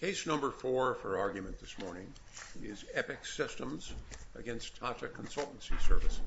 Case number four for argument this morning is EPIC Systems v. Tata Consultancy Services.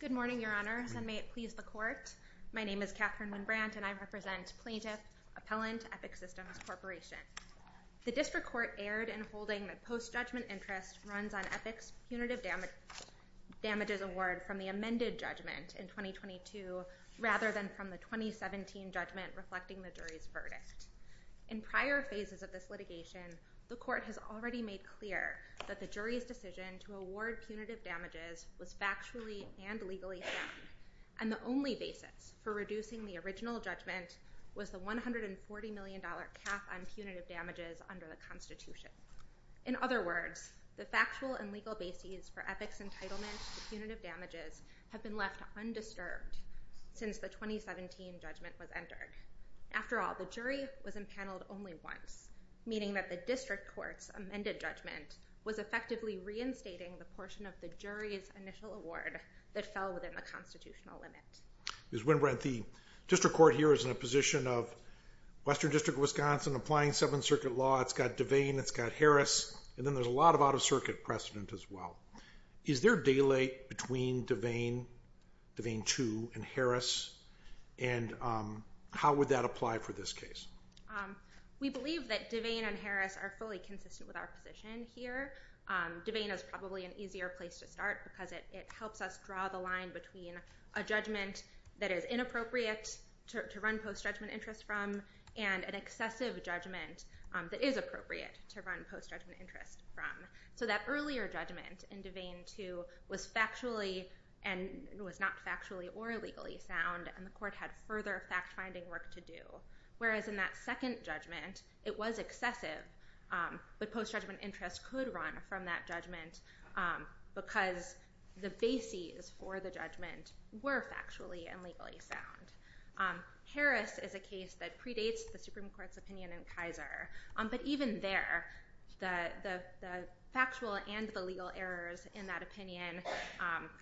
Good morning, your honors, and may it please the court. My name is Katherine Winn-Brandt and I represent plaintiff appellant EPIC Systems Corporation. The district court erred in holding that post-judgment interest runs on EPIC's punitive damages award from the amended judgment in 2022 rather than from the 2017 judgment reflecting the jury's verdict. In prior phases of this litigation, the court has already made clear that the jury's decision to award punitive damages was factually and legally sound, and the only basis for reducing the original judgment was the $140 million cap on punitive damages under the Constitution. In other words, the factual and legal basis for EPIC's entitlement to punitive damages have been left undisturbed since the 2017 judgment was entered. After all, the jury was impaneled only once, meaning that the district court's amended judgment was effectively reinstating the portion of the jury's initial award that fell within the constitutional limit. Ms. Winn-Brandt, the district court here is in a position of Western District of Wisconsin applying Seventh Circuit law. It's got Devane, it's got Harris, and then there's a lot of out-of-circuit precedent as well. Is there a delay between Devane, Devane 2, and Harris, and how would that apply for this case? We believe that Devane and Harris are fully consistent with our position here. Devane is probably an easier place to start because it helps us draw the line between a judgment that is inappropriate to run post-judgment interest from and an excessive judgment that is appropriate to run post-judgment interest from. So that earlier judgment in Devane 2 was factually and was not factually or legally sound, and the court had further fact-finding work to do. Whereas in that second judgment, it was excessive, but post-judgment interest could run from that judgment because the bases for the judgment were factually and legally sound. Harris is a case that predates the Supreme Court's opinion in Kaiser, but even there, the factual and the legal errors in that opinion,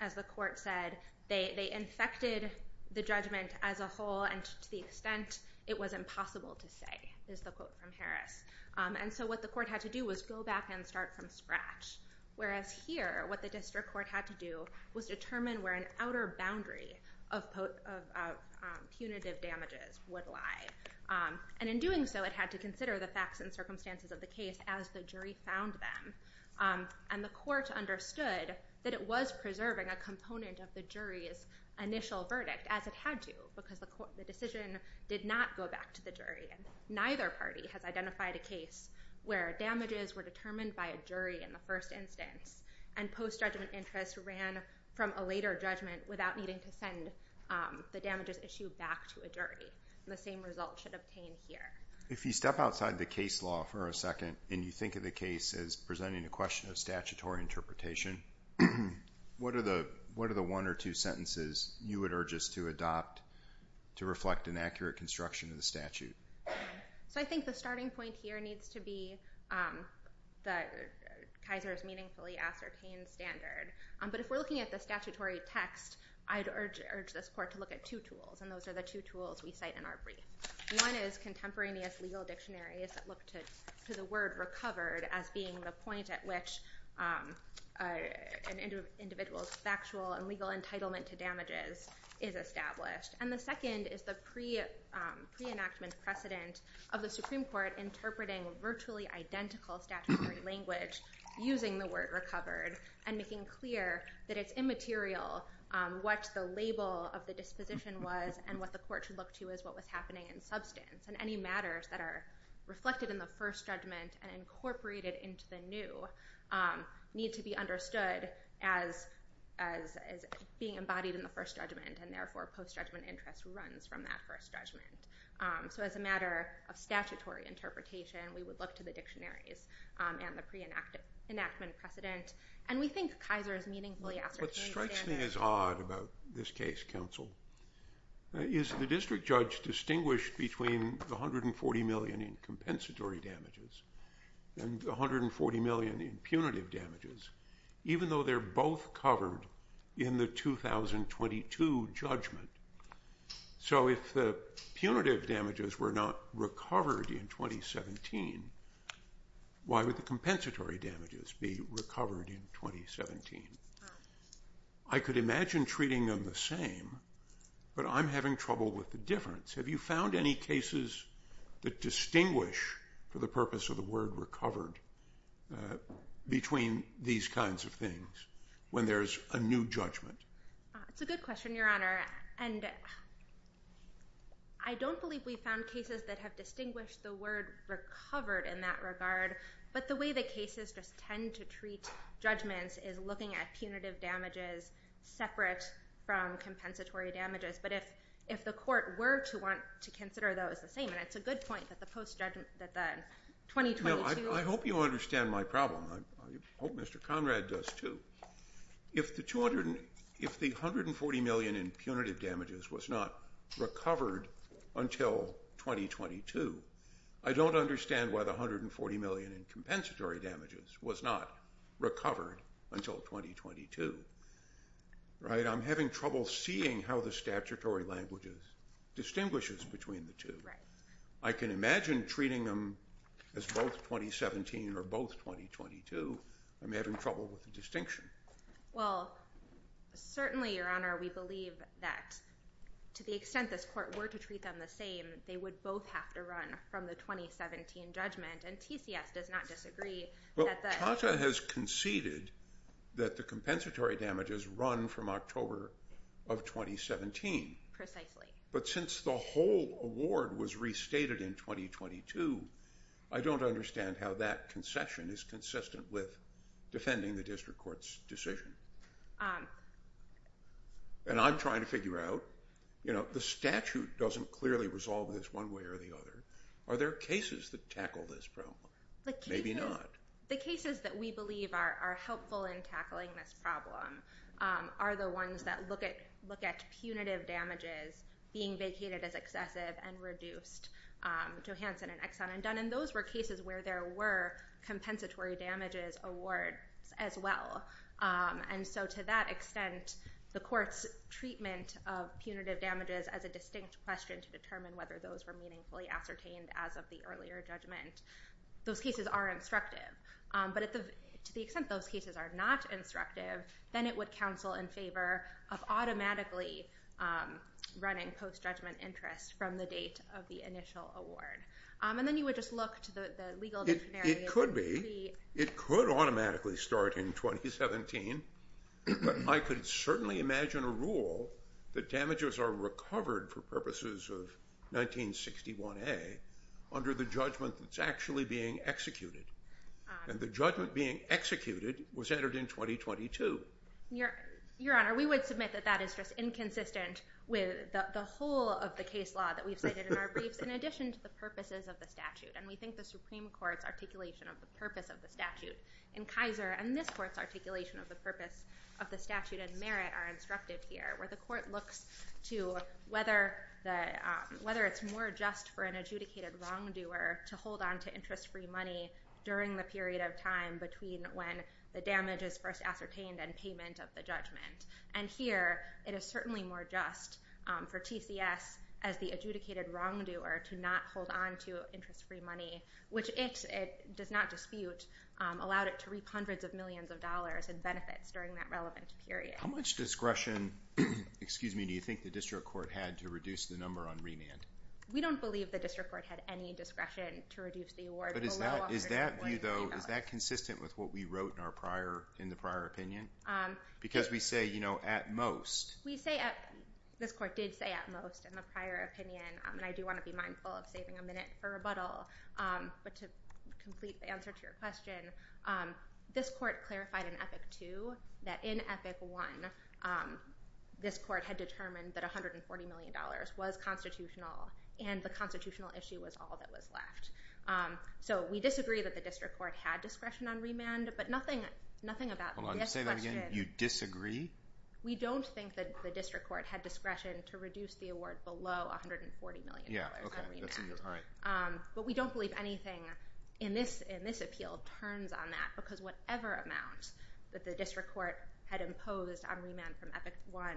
as the court said, they infected the judgment as a whole and to the extent it was impossible to say, is the quote from And so what the court had to do was go back and start from scratch. Whereas here, what the district court had to do was determine where an outer boundary of punitive damages would lie. And in doing so, it had to consider the facts and circumstances of the case as the jury found them. And the court understood that it was preserving a component of the jury's initial verdict, as it had to, because the decision did not go back to the jury. And neither party has identified a case where damages were determined by a jury in the first instance, and post-judgment interest ran from a later judgment without needing to send the damages issue back to a jury. And the same result should obtain here. If you step outside the case law for a second, and you think of the case as presenting a question of statutory interpretation, what are the one or two sentences you would urge judges to adopt to reflect an accurate construction of the statute? So I think the starting point here needs to be Kaiser's meaningfully ascertained standard. But if we're looking at the statutory text, I'd urge this court to look at two tools. And those are the two tools we cite in our brief. One is contemporaneous legal dictionaries that look to the word recovered as being the point at which an individual's factual and judicial record is established. And the second is the pre-enactment precedent of the Supreme Court interpreting virtually identical statutory language using the word recovered, and making clear that it's immaterial what the label of the disposition was and what the court should look to as what was happening in substance. And any matters that are reflected in the first judgment and incorporated into the new need to be understood as being embodied in the first judgment, and therefore post-judgment interest runs from that first judgment. So as a matter of statutory interpretation, we would look to the dictionaries and the pre-enactment precedent. And we think Kaiser's meaningfully ascertained standard... What strikes me as odd about this case, counsel, is the district judge distinguished between the $140 million in compensatory damages and the $140 million in punitive damages, even though they're both covered in the 2022 judgment. So if the punitive damages were not recovered in 2017, why would the compensatory damages be recovered in 2017? I could imagine treating them the same, but I'm having trouble with the difference. Have you found any cases that distinguish for the purpose of the word recovered between these kinds of things when there's a new judgment? It's a good question, Your Honor. And I don't believe we've found cases that have distinguished the word recovered in that regard, but the way the cases just tend to treat judgments is looking at punitive damages separate from compensatory damages. But if the court were to want to consider those the same, and it's a good point that the 2022... I hope you understand my problem. I hope Mr. Conrad does too. If the $140 million in punitive damages was not recovered until 2022, I don't understand why the $140 million in compensatory damages was not recovered until 2022. I'm having trouble seeing how the statutory languages distinguish between the two. I can imagine treating them as both 2017 or both 2022. I'm having trouble with the distinction. Well, certainly, Your Honor, we believe that to the extent this court were to treat them the same, they would both have to run from the 2017 judgment, and TCS does not disagree that the... Well, TATA has conceded that the compensatory damages run from October of 2017. Precisely. But since the whole award was restated in 2022, I don't understand how that concession is consistent with defending the district court's decision. And I'm trying to figure out, you know, the statute doesn't clearly resolve this one way or the other. Are there cases that tackle this problem? Maybe not. The cases that we believe are helpful in tackling this problem are the ones that look at punitive damages being vacated as excessive and reduced, Johansson and Exxon and Dunn. And those were cases where there were compensatory damages awards as well. And so to that extent, the court's treatment of punitive damages as a distinct question to determine whether those were meaningfully ascertained as of the earlier judgment, those cases are instructive. But to the extent those cases are not instructive, then it would counsel in favor of automatically running post-judgment interest from the date of the initial award. And then you would just look to the legal dictionary... It could be. It could automatically start in 2017. But I could certainly imagine a rule that damages are recovered for purposes of 1961A under the judgment that's actually being executed. And the judgment being executed was entered in 2022. Your Honor, we would submit that that is just inconsistent with the whole of the case law that we've cited in our briefs, in addition to the purposes of the statute. And we think the Supreme Court's articulation of the purpose of the statute in Kaiser and this court's articulation of the purpose of the statute in Merritt are instructive here, where the court looks to whether it's more just for an adjudicated wrongdoer to hold on to interest-free money during the period of time between when the damage is first ascertained and payment of the judgment. And here, it is certainly more just for TCS as the adjudicated wrongdoer to not hold on to interest-free money, which it does not dispute, allowed it to reap hundreds of millions of dollars in benefits during that relevant period. How much discretion, excuse me, do you think the district court had to reduce the number on remand? We don't believe the district court had any discretion to reduce the award. But is that view, though, is that consistent with what we wrote in our prior, in the prior opinion? Because we say, you know, at most. We say at, this court did say at most in the prior opinion, and I do want to be mindful of saving a minute for rebuttal, but to complete the answer to your question, this court clarified in Epic II that in Epic I, this court had determined that $140 million was constitutional and the constitutional issue was all that was left. So, we disagree that the district court had discretion on remand, but nothing, nothing about this question. Hold on, say that again, you disagree? We don't think that the district court had discretion to reduce the award below $140 million on remand. Yeah, okay, that's a, all right. But we don't believe anything in this, in this appeal turns on that, because whatever amount that the district court had imposed on remand from Epic I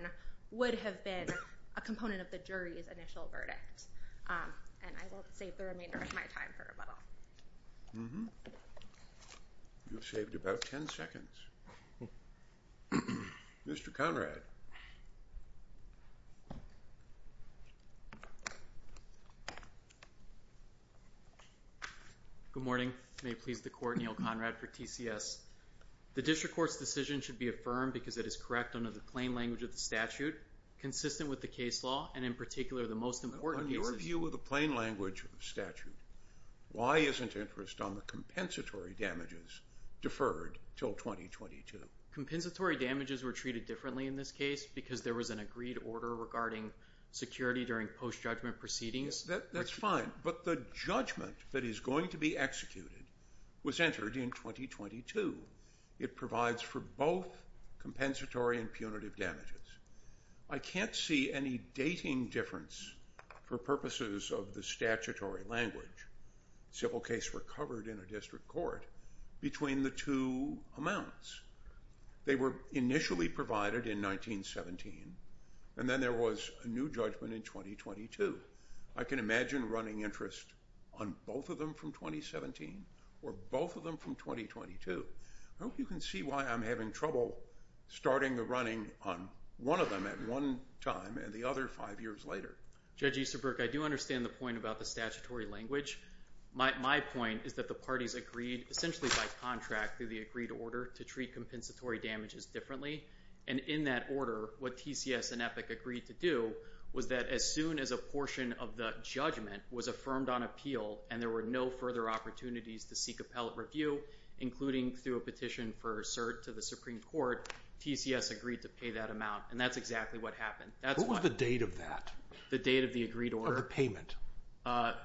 would have been a component of the jury's initial verdict. And I will save the remainder of my time for rebuttal. Mm-hmm. You've saved about 10 seconds. Mr. Conrad. Good morning. May it please the court, Neil Conrad for TCS. The district court's decision should be affirmed because it is correct under the plain language of the statute, consistent with the case law, and in particular, the most important cases. On your view of the plain language of the statute, why isn't interest on the compensatory damages deferred till 2022? Compensatory damages were treated differently in this case because there was an agreed order regarding security during post-judgment proceedings. That's fine. But the judgment that is going to be executed was entered in 2022. It provides for both compensatory and punitive damages. I can't see any dating difference for purposes of the statutory language, civil case recovered in a district court, between the two amounts. They were initially provided in 1917, and then there was a new judgment in 2022. I can imagine running interest on both of them from 2017, or both of them from 2022. I hope you can see why I'm having trouble starting the running on one of them at one time, and the other five years later. Judge Easterbrook, I do understand the point about the statutory language. My point is that the parties agreed, essentially by contract through the agreed order, to treat compensatory damages differently. In that order, what TCS and EPIC agreed to do was that as soon as a portion of the judgment was affirmed on appeal, and there were no further opportunities to seek appellate review, including through a petition for cert to the Supreme Court, TCS agreed to pay that amount. That's exactly what happened. What was the date of that? The date of the agreed order? Of the payment. I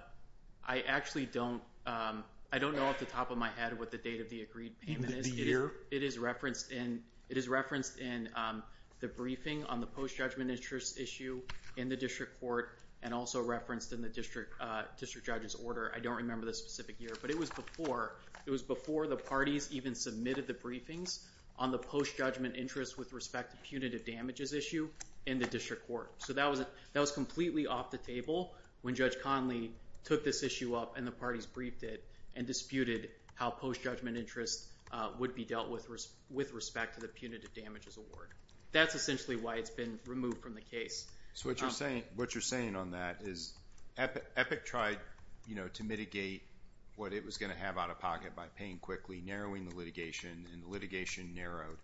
actually don't know off the top of my head what the date of the agreed payment is. The year? It is referenced in the briefing on the post-judgment interest issue in the district court, and also referenced in the district judge's order. I don't remember the specific year, but it was before the parties even submitted the briefings on the post-judgment interest with respect to punitive damages issue in the district court. So that was completely off the table when Judge Conley took this issue up, and the parties briefed it and disputed how post-judgment interest would be dealt with with respect to the punitive damages award. That's essentially why it's been removed from the case. So what you're saying on that is EPIC tried to mitigate what it was going to have out of pocket by paying quickly, narrowing the litigation, and the litigation narrowed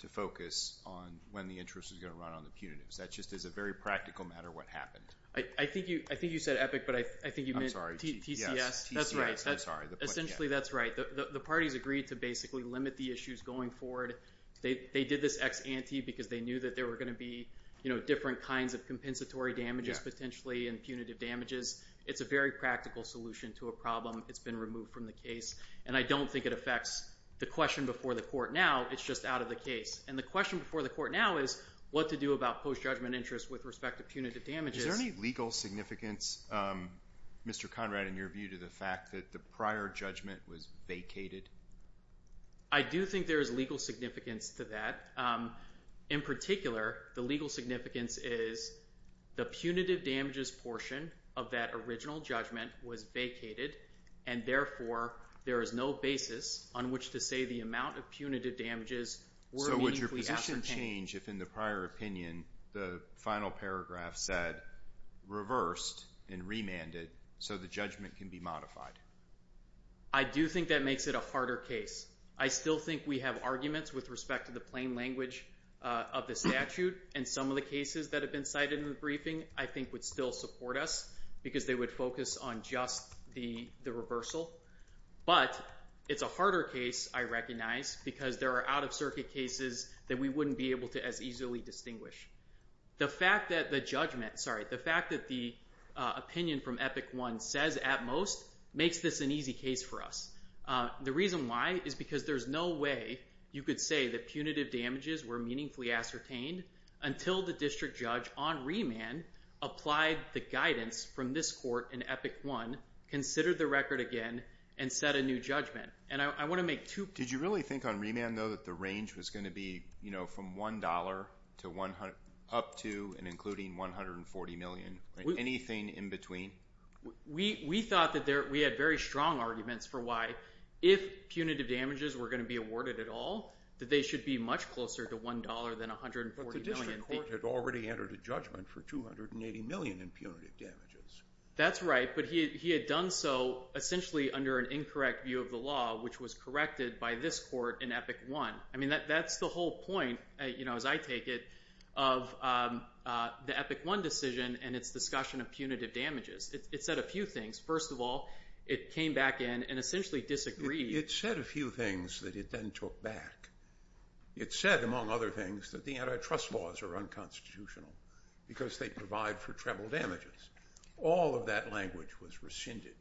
to focus on when the interest was going to run on the punitives. That just is a very practical matter what happened. I think you said EPIC, but I think you meant TCS. Yes, TCS. Essentially, that's right. The parties agreed to basically limit the issues going forward. They did this ex ante because they knew that there were going to be different kinds of compensatory damages potentially and punitive damages. It's a very practical solution to a problem. It's been removed from the case. And I don't think it affects the question before the court now. It's just out of the case. And the question before the court now is what to do about post-judgment interest with respect to punitive damages. Is there any legal significance, Mr. Conrad, in your view to the fact that the prior judgment was vacated? I do think there is legal significance to that. In particular, the legal significance is the punitive damages portion of that original judgment was vacated, and therefore there is no basis on which to say the amount of punitive damages were meaningfully ascertained. Would the action change if, in the prior opinion, the final paragraph said reversed and remanded so the judgment can be modified? I do think that makes it a harder case. I still think we have arguments with respect to the plain language of the statute, and some of the cases that have been cited in the briefing I think would still support us because they would focus on just the reversal. But it's a harder case, I recognize, because there are out-of-circuit cases that we wouldn't be able to as easily distinguish. The fact that the judgment, sorry, the fact that the opinion from Epic One says at most makes this an easy case for us. The reason why is because there's no way you could say that punitive damages were meaningfully ascertained until the district judge on remand applied the guidance from this court in Epic One, considered the record again, and set a new judgment. And I want to make two points. Did you really think on remand, though, that the range was going to be from $1 up to and including $140 million? Anything in between? We thought that we had very strong arguments for why, if punitive damages were going to be awarded at all, that they should be much closer to $1 than $140 million. But the district court had already entered a judgment for $280 million in punitive damages. That's right, but he had done so essentially under an incorrect view of the law, which was corrected by this court in Epic One. I mean, that's the whole point, as I take it, of the Epic One decision and its discussion of punitive damages. It said a few things. First of all, it came back in and essentially disagreed. It said a few things that it then took back. It said, among other things, that the antitrust laws are unconstitutional because they provide for treble damages. All of that language was rescinded.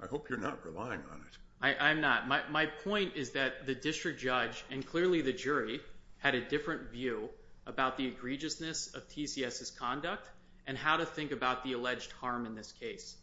I hope you're not relying on it. I'm not. My point is that the district judge and clearly the jury had a different view about the egregiousness of TCS's conduct and how to think about the alleged harm in this case.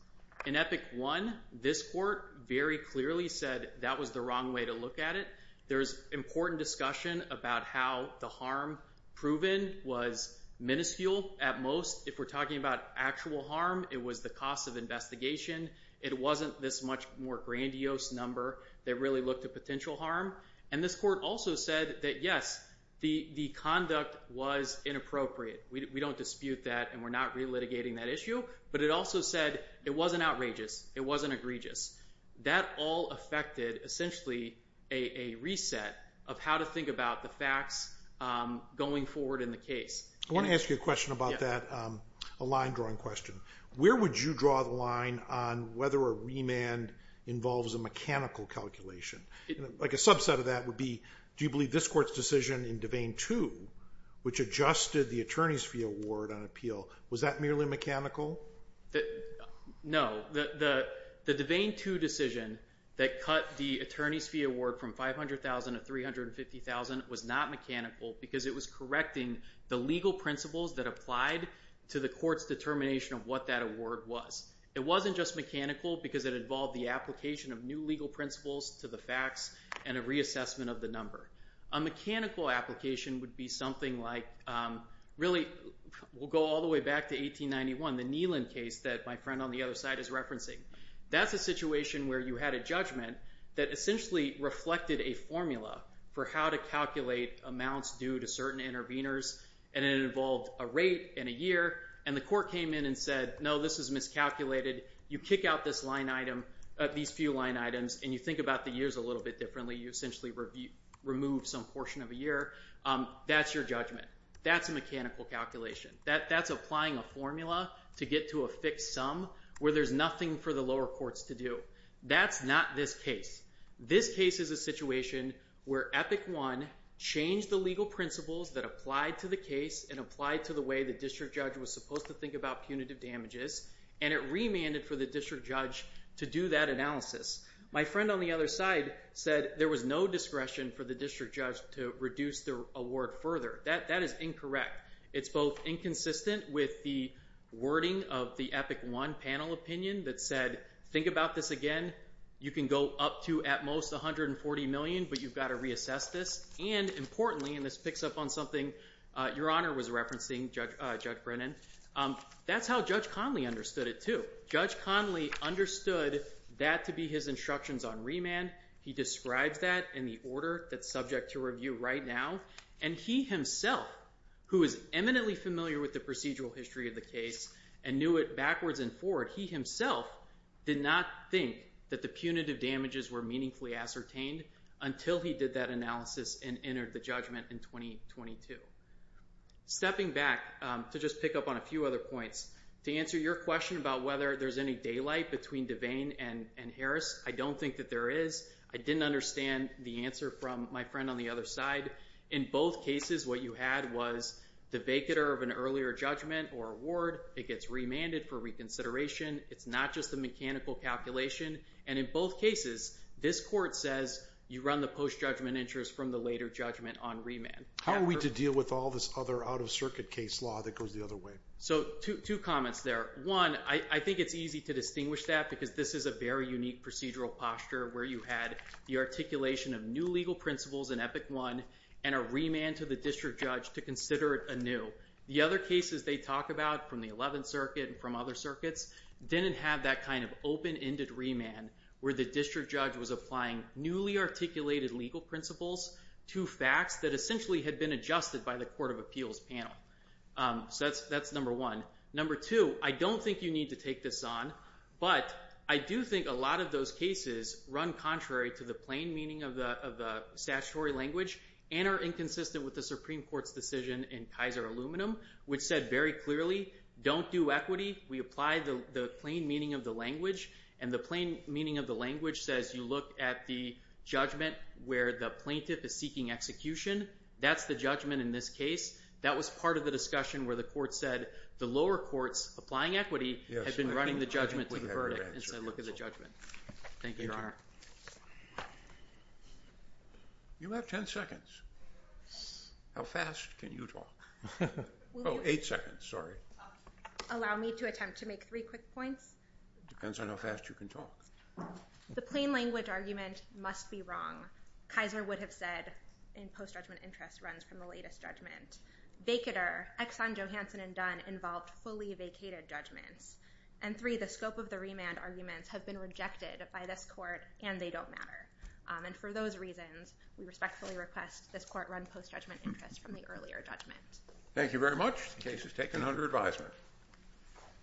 In Epic One, this court very clearly said that was the wrong way to look at it. There's important discussion about how the harm proven was minuscule at most. If we're talking about actual harm, it was the cost of investigation. It wasn't this much more grandiose number that really looked at potential harm. And this court also said that, yes, the conduct was inappropriate. We don't dispute that, and we're not relitigating that issue. But it also said it wasn't outrageous. It wasn't egregious. That all affected essentially a reset of how to think about the facts going forward in the case. I want to ask you a question about that, a line-drawing question. Where would you draw the line on whether a remand involves a mechanical calculation? Like a subset of that would be do you believe this court's decision in Devane 2, which adjusted the attorney's fee award on appeal, was that merely mechanical? No. The Devane 2 decision that cut the attorney's fee award from $500,000 to $350,000 was not mechanical because it was correcting the legal principles that applied to the court's determination of what that award was. It wasn't just mechanical because it involved the application of new legal principles to the facts and a reassessment of the number. A mechanical application would be something like really we'll go all the way back to 1891, the Neelan case that my friend on the other side is referencing. That's a situation where you had a judgment that essentially reflected a formula for how to calculate amounts due to certain interveners, and it involved a rate and a year. And the court came in and said, no, this is miscalculated. You kick out this line item, these few line items, and you think about the years a little bit differently. You essentially remove some portion of a year. That's your judgment. That's a mechanical calculation. That's applying a formula to get to a fixed sum where there's nothing for the lower courts to do. That's not this case. This case is a situation where Epic 1 changed the legal principles that applied to the case and applied to the way the district judge was supposed to think about punitive damages, and it remanded for the district judge to do that analysis. My friend on the other side said there was no discretion for the district judge to reduce the award further. That is incorrect. It's both inconsistent with the wording of the Epic 1 panel opinion that said, think about this again. You can go up to at most $140 million, but you've got to reassess this. And importantly, and this picks up on something Your Honor was referencing, Judge Brennan, that's how Judge Conley understood it too. Judge Conley understood that to be his instructions on remand. He describes that in the order that's subject to review right now. And he himself, who is eminently familiar with the procedural history of the case and knew it backwards and forward, he himself did not think that the punitive damages were meaningfully ascertained until he did that analysis and entered the judgment in 2022. Stepping back to just pick up on a few other points, to answer your question about whether there's any daylight between Devane and Harris, I don't think that there is. I didn't understand the answer from my friend on the other side. In both cases, what you had was the vacater of an earlier judgment or award. It gets remanded for reconsideration. It's not just a mechanical calculation. And in both cases, this court says you run the post-judgment interest from the later judgment on remand. How are we to deal with all this other out-of-circuit case law that goes the other way? So two comments there. One, I think it's easy to distinguish that because this is a very unique procedural posture where you had the articulation of new legal principles in Epic I and a remand to the district judge to consider it anew. The other cases they talk about from the 11th Circuit and from other circuits didn't have that kind of open-ended remand where the district judge was applying newly articulated legal principles to facts that essentially had been adjusted by the Court of Appeals panel. So that's number one. Number two, I don't think you need to take this on, but I do think a lot of those cases run contrary to the plain meaning of the statutory language and are inconsistent with the Supreme Court's decision in Kaiser Aluminum which said very clearly, don't do equity. We apply the plain meaning of the language, and the plain meaning of the language says you look at the judgment where the plaintiff is seeking execution. That's the judgment in this case. That was part of the discussion where the court said the lower courts applying equity had been running the judgment to the verdict and said look at the judgment. Thank you, Your Honor. You have ten seconds. How fast can you talk? Oh, eight seconds, sorry. Allow me to attempt to make three quick points. Depends on how fast you can talk. The plain language argument must be wrong. Kaiser would have said in post-judgment interest runs from the latest judgment. Vacatur, Exxon, Johansson, and Dunn involved fully vacated judgments. And three, the scope of the remand arguments have been rejected by this court, and they don't matter. And for those reasons, we respectfully request this court run post-judgment interest from the earlier judgment. Thank you very much. The case is taken under advisement.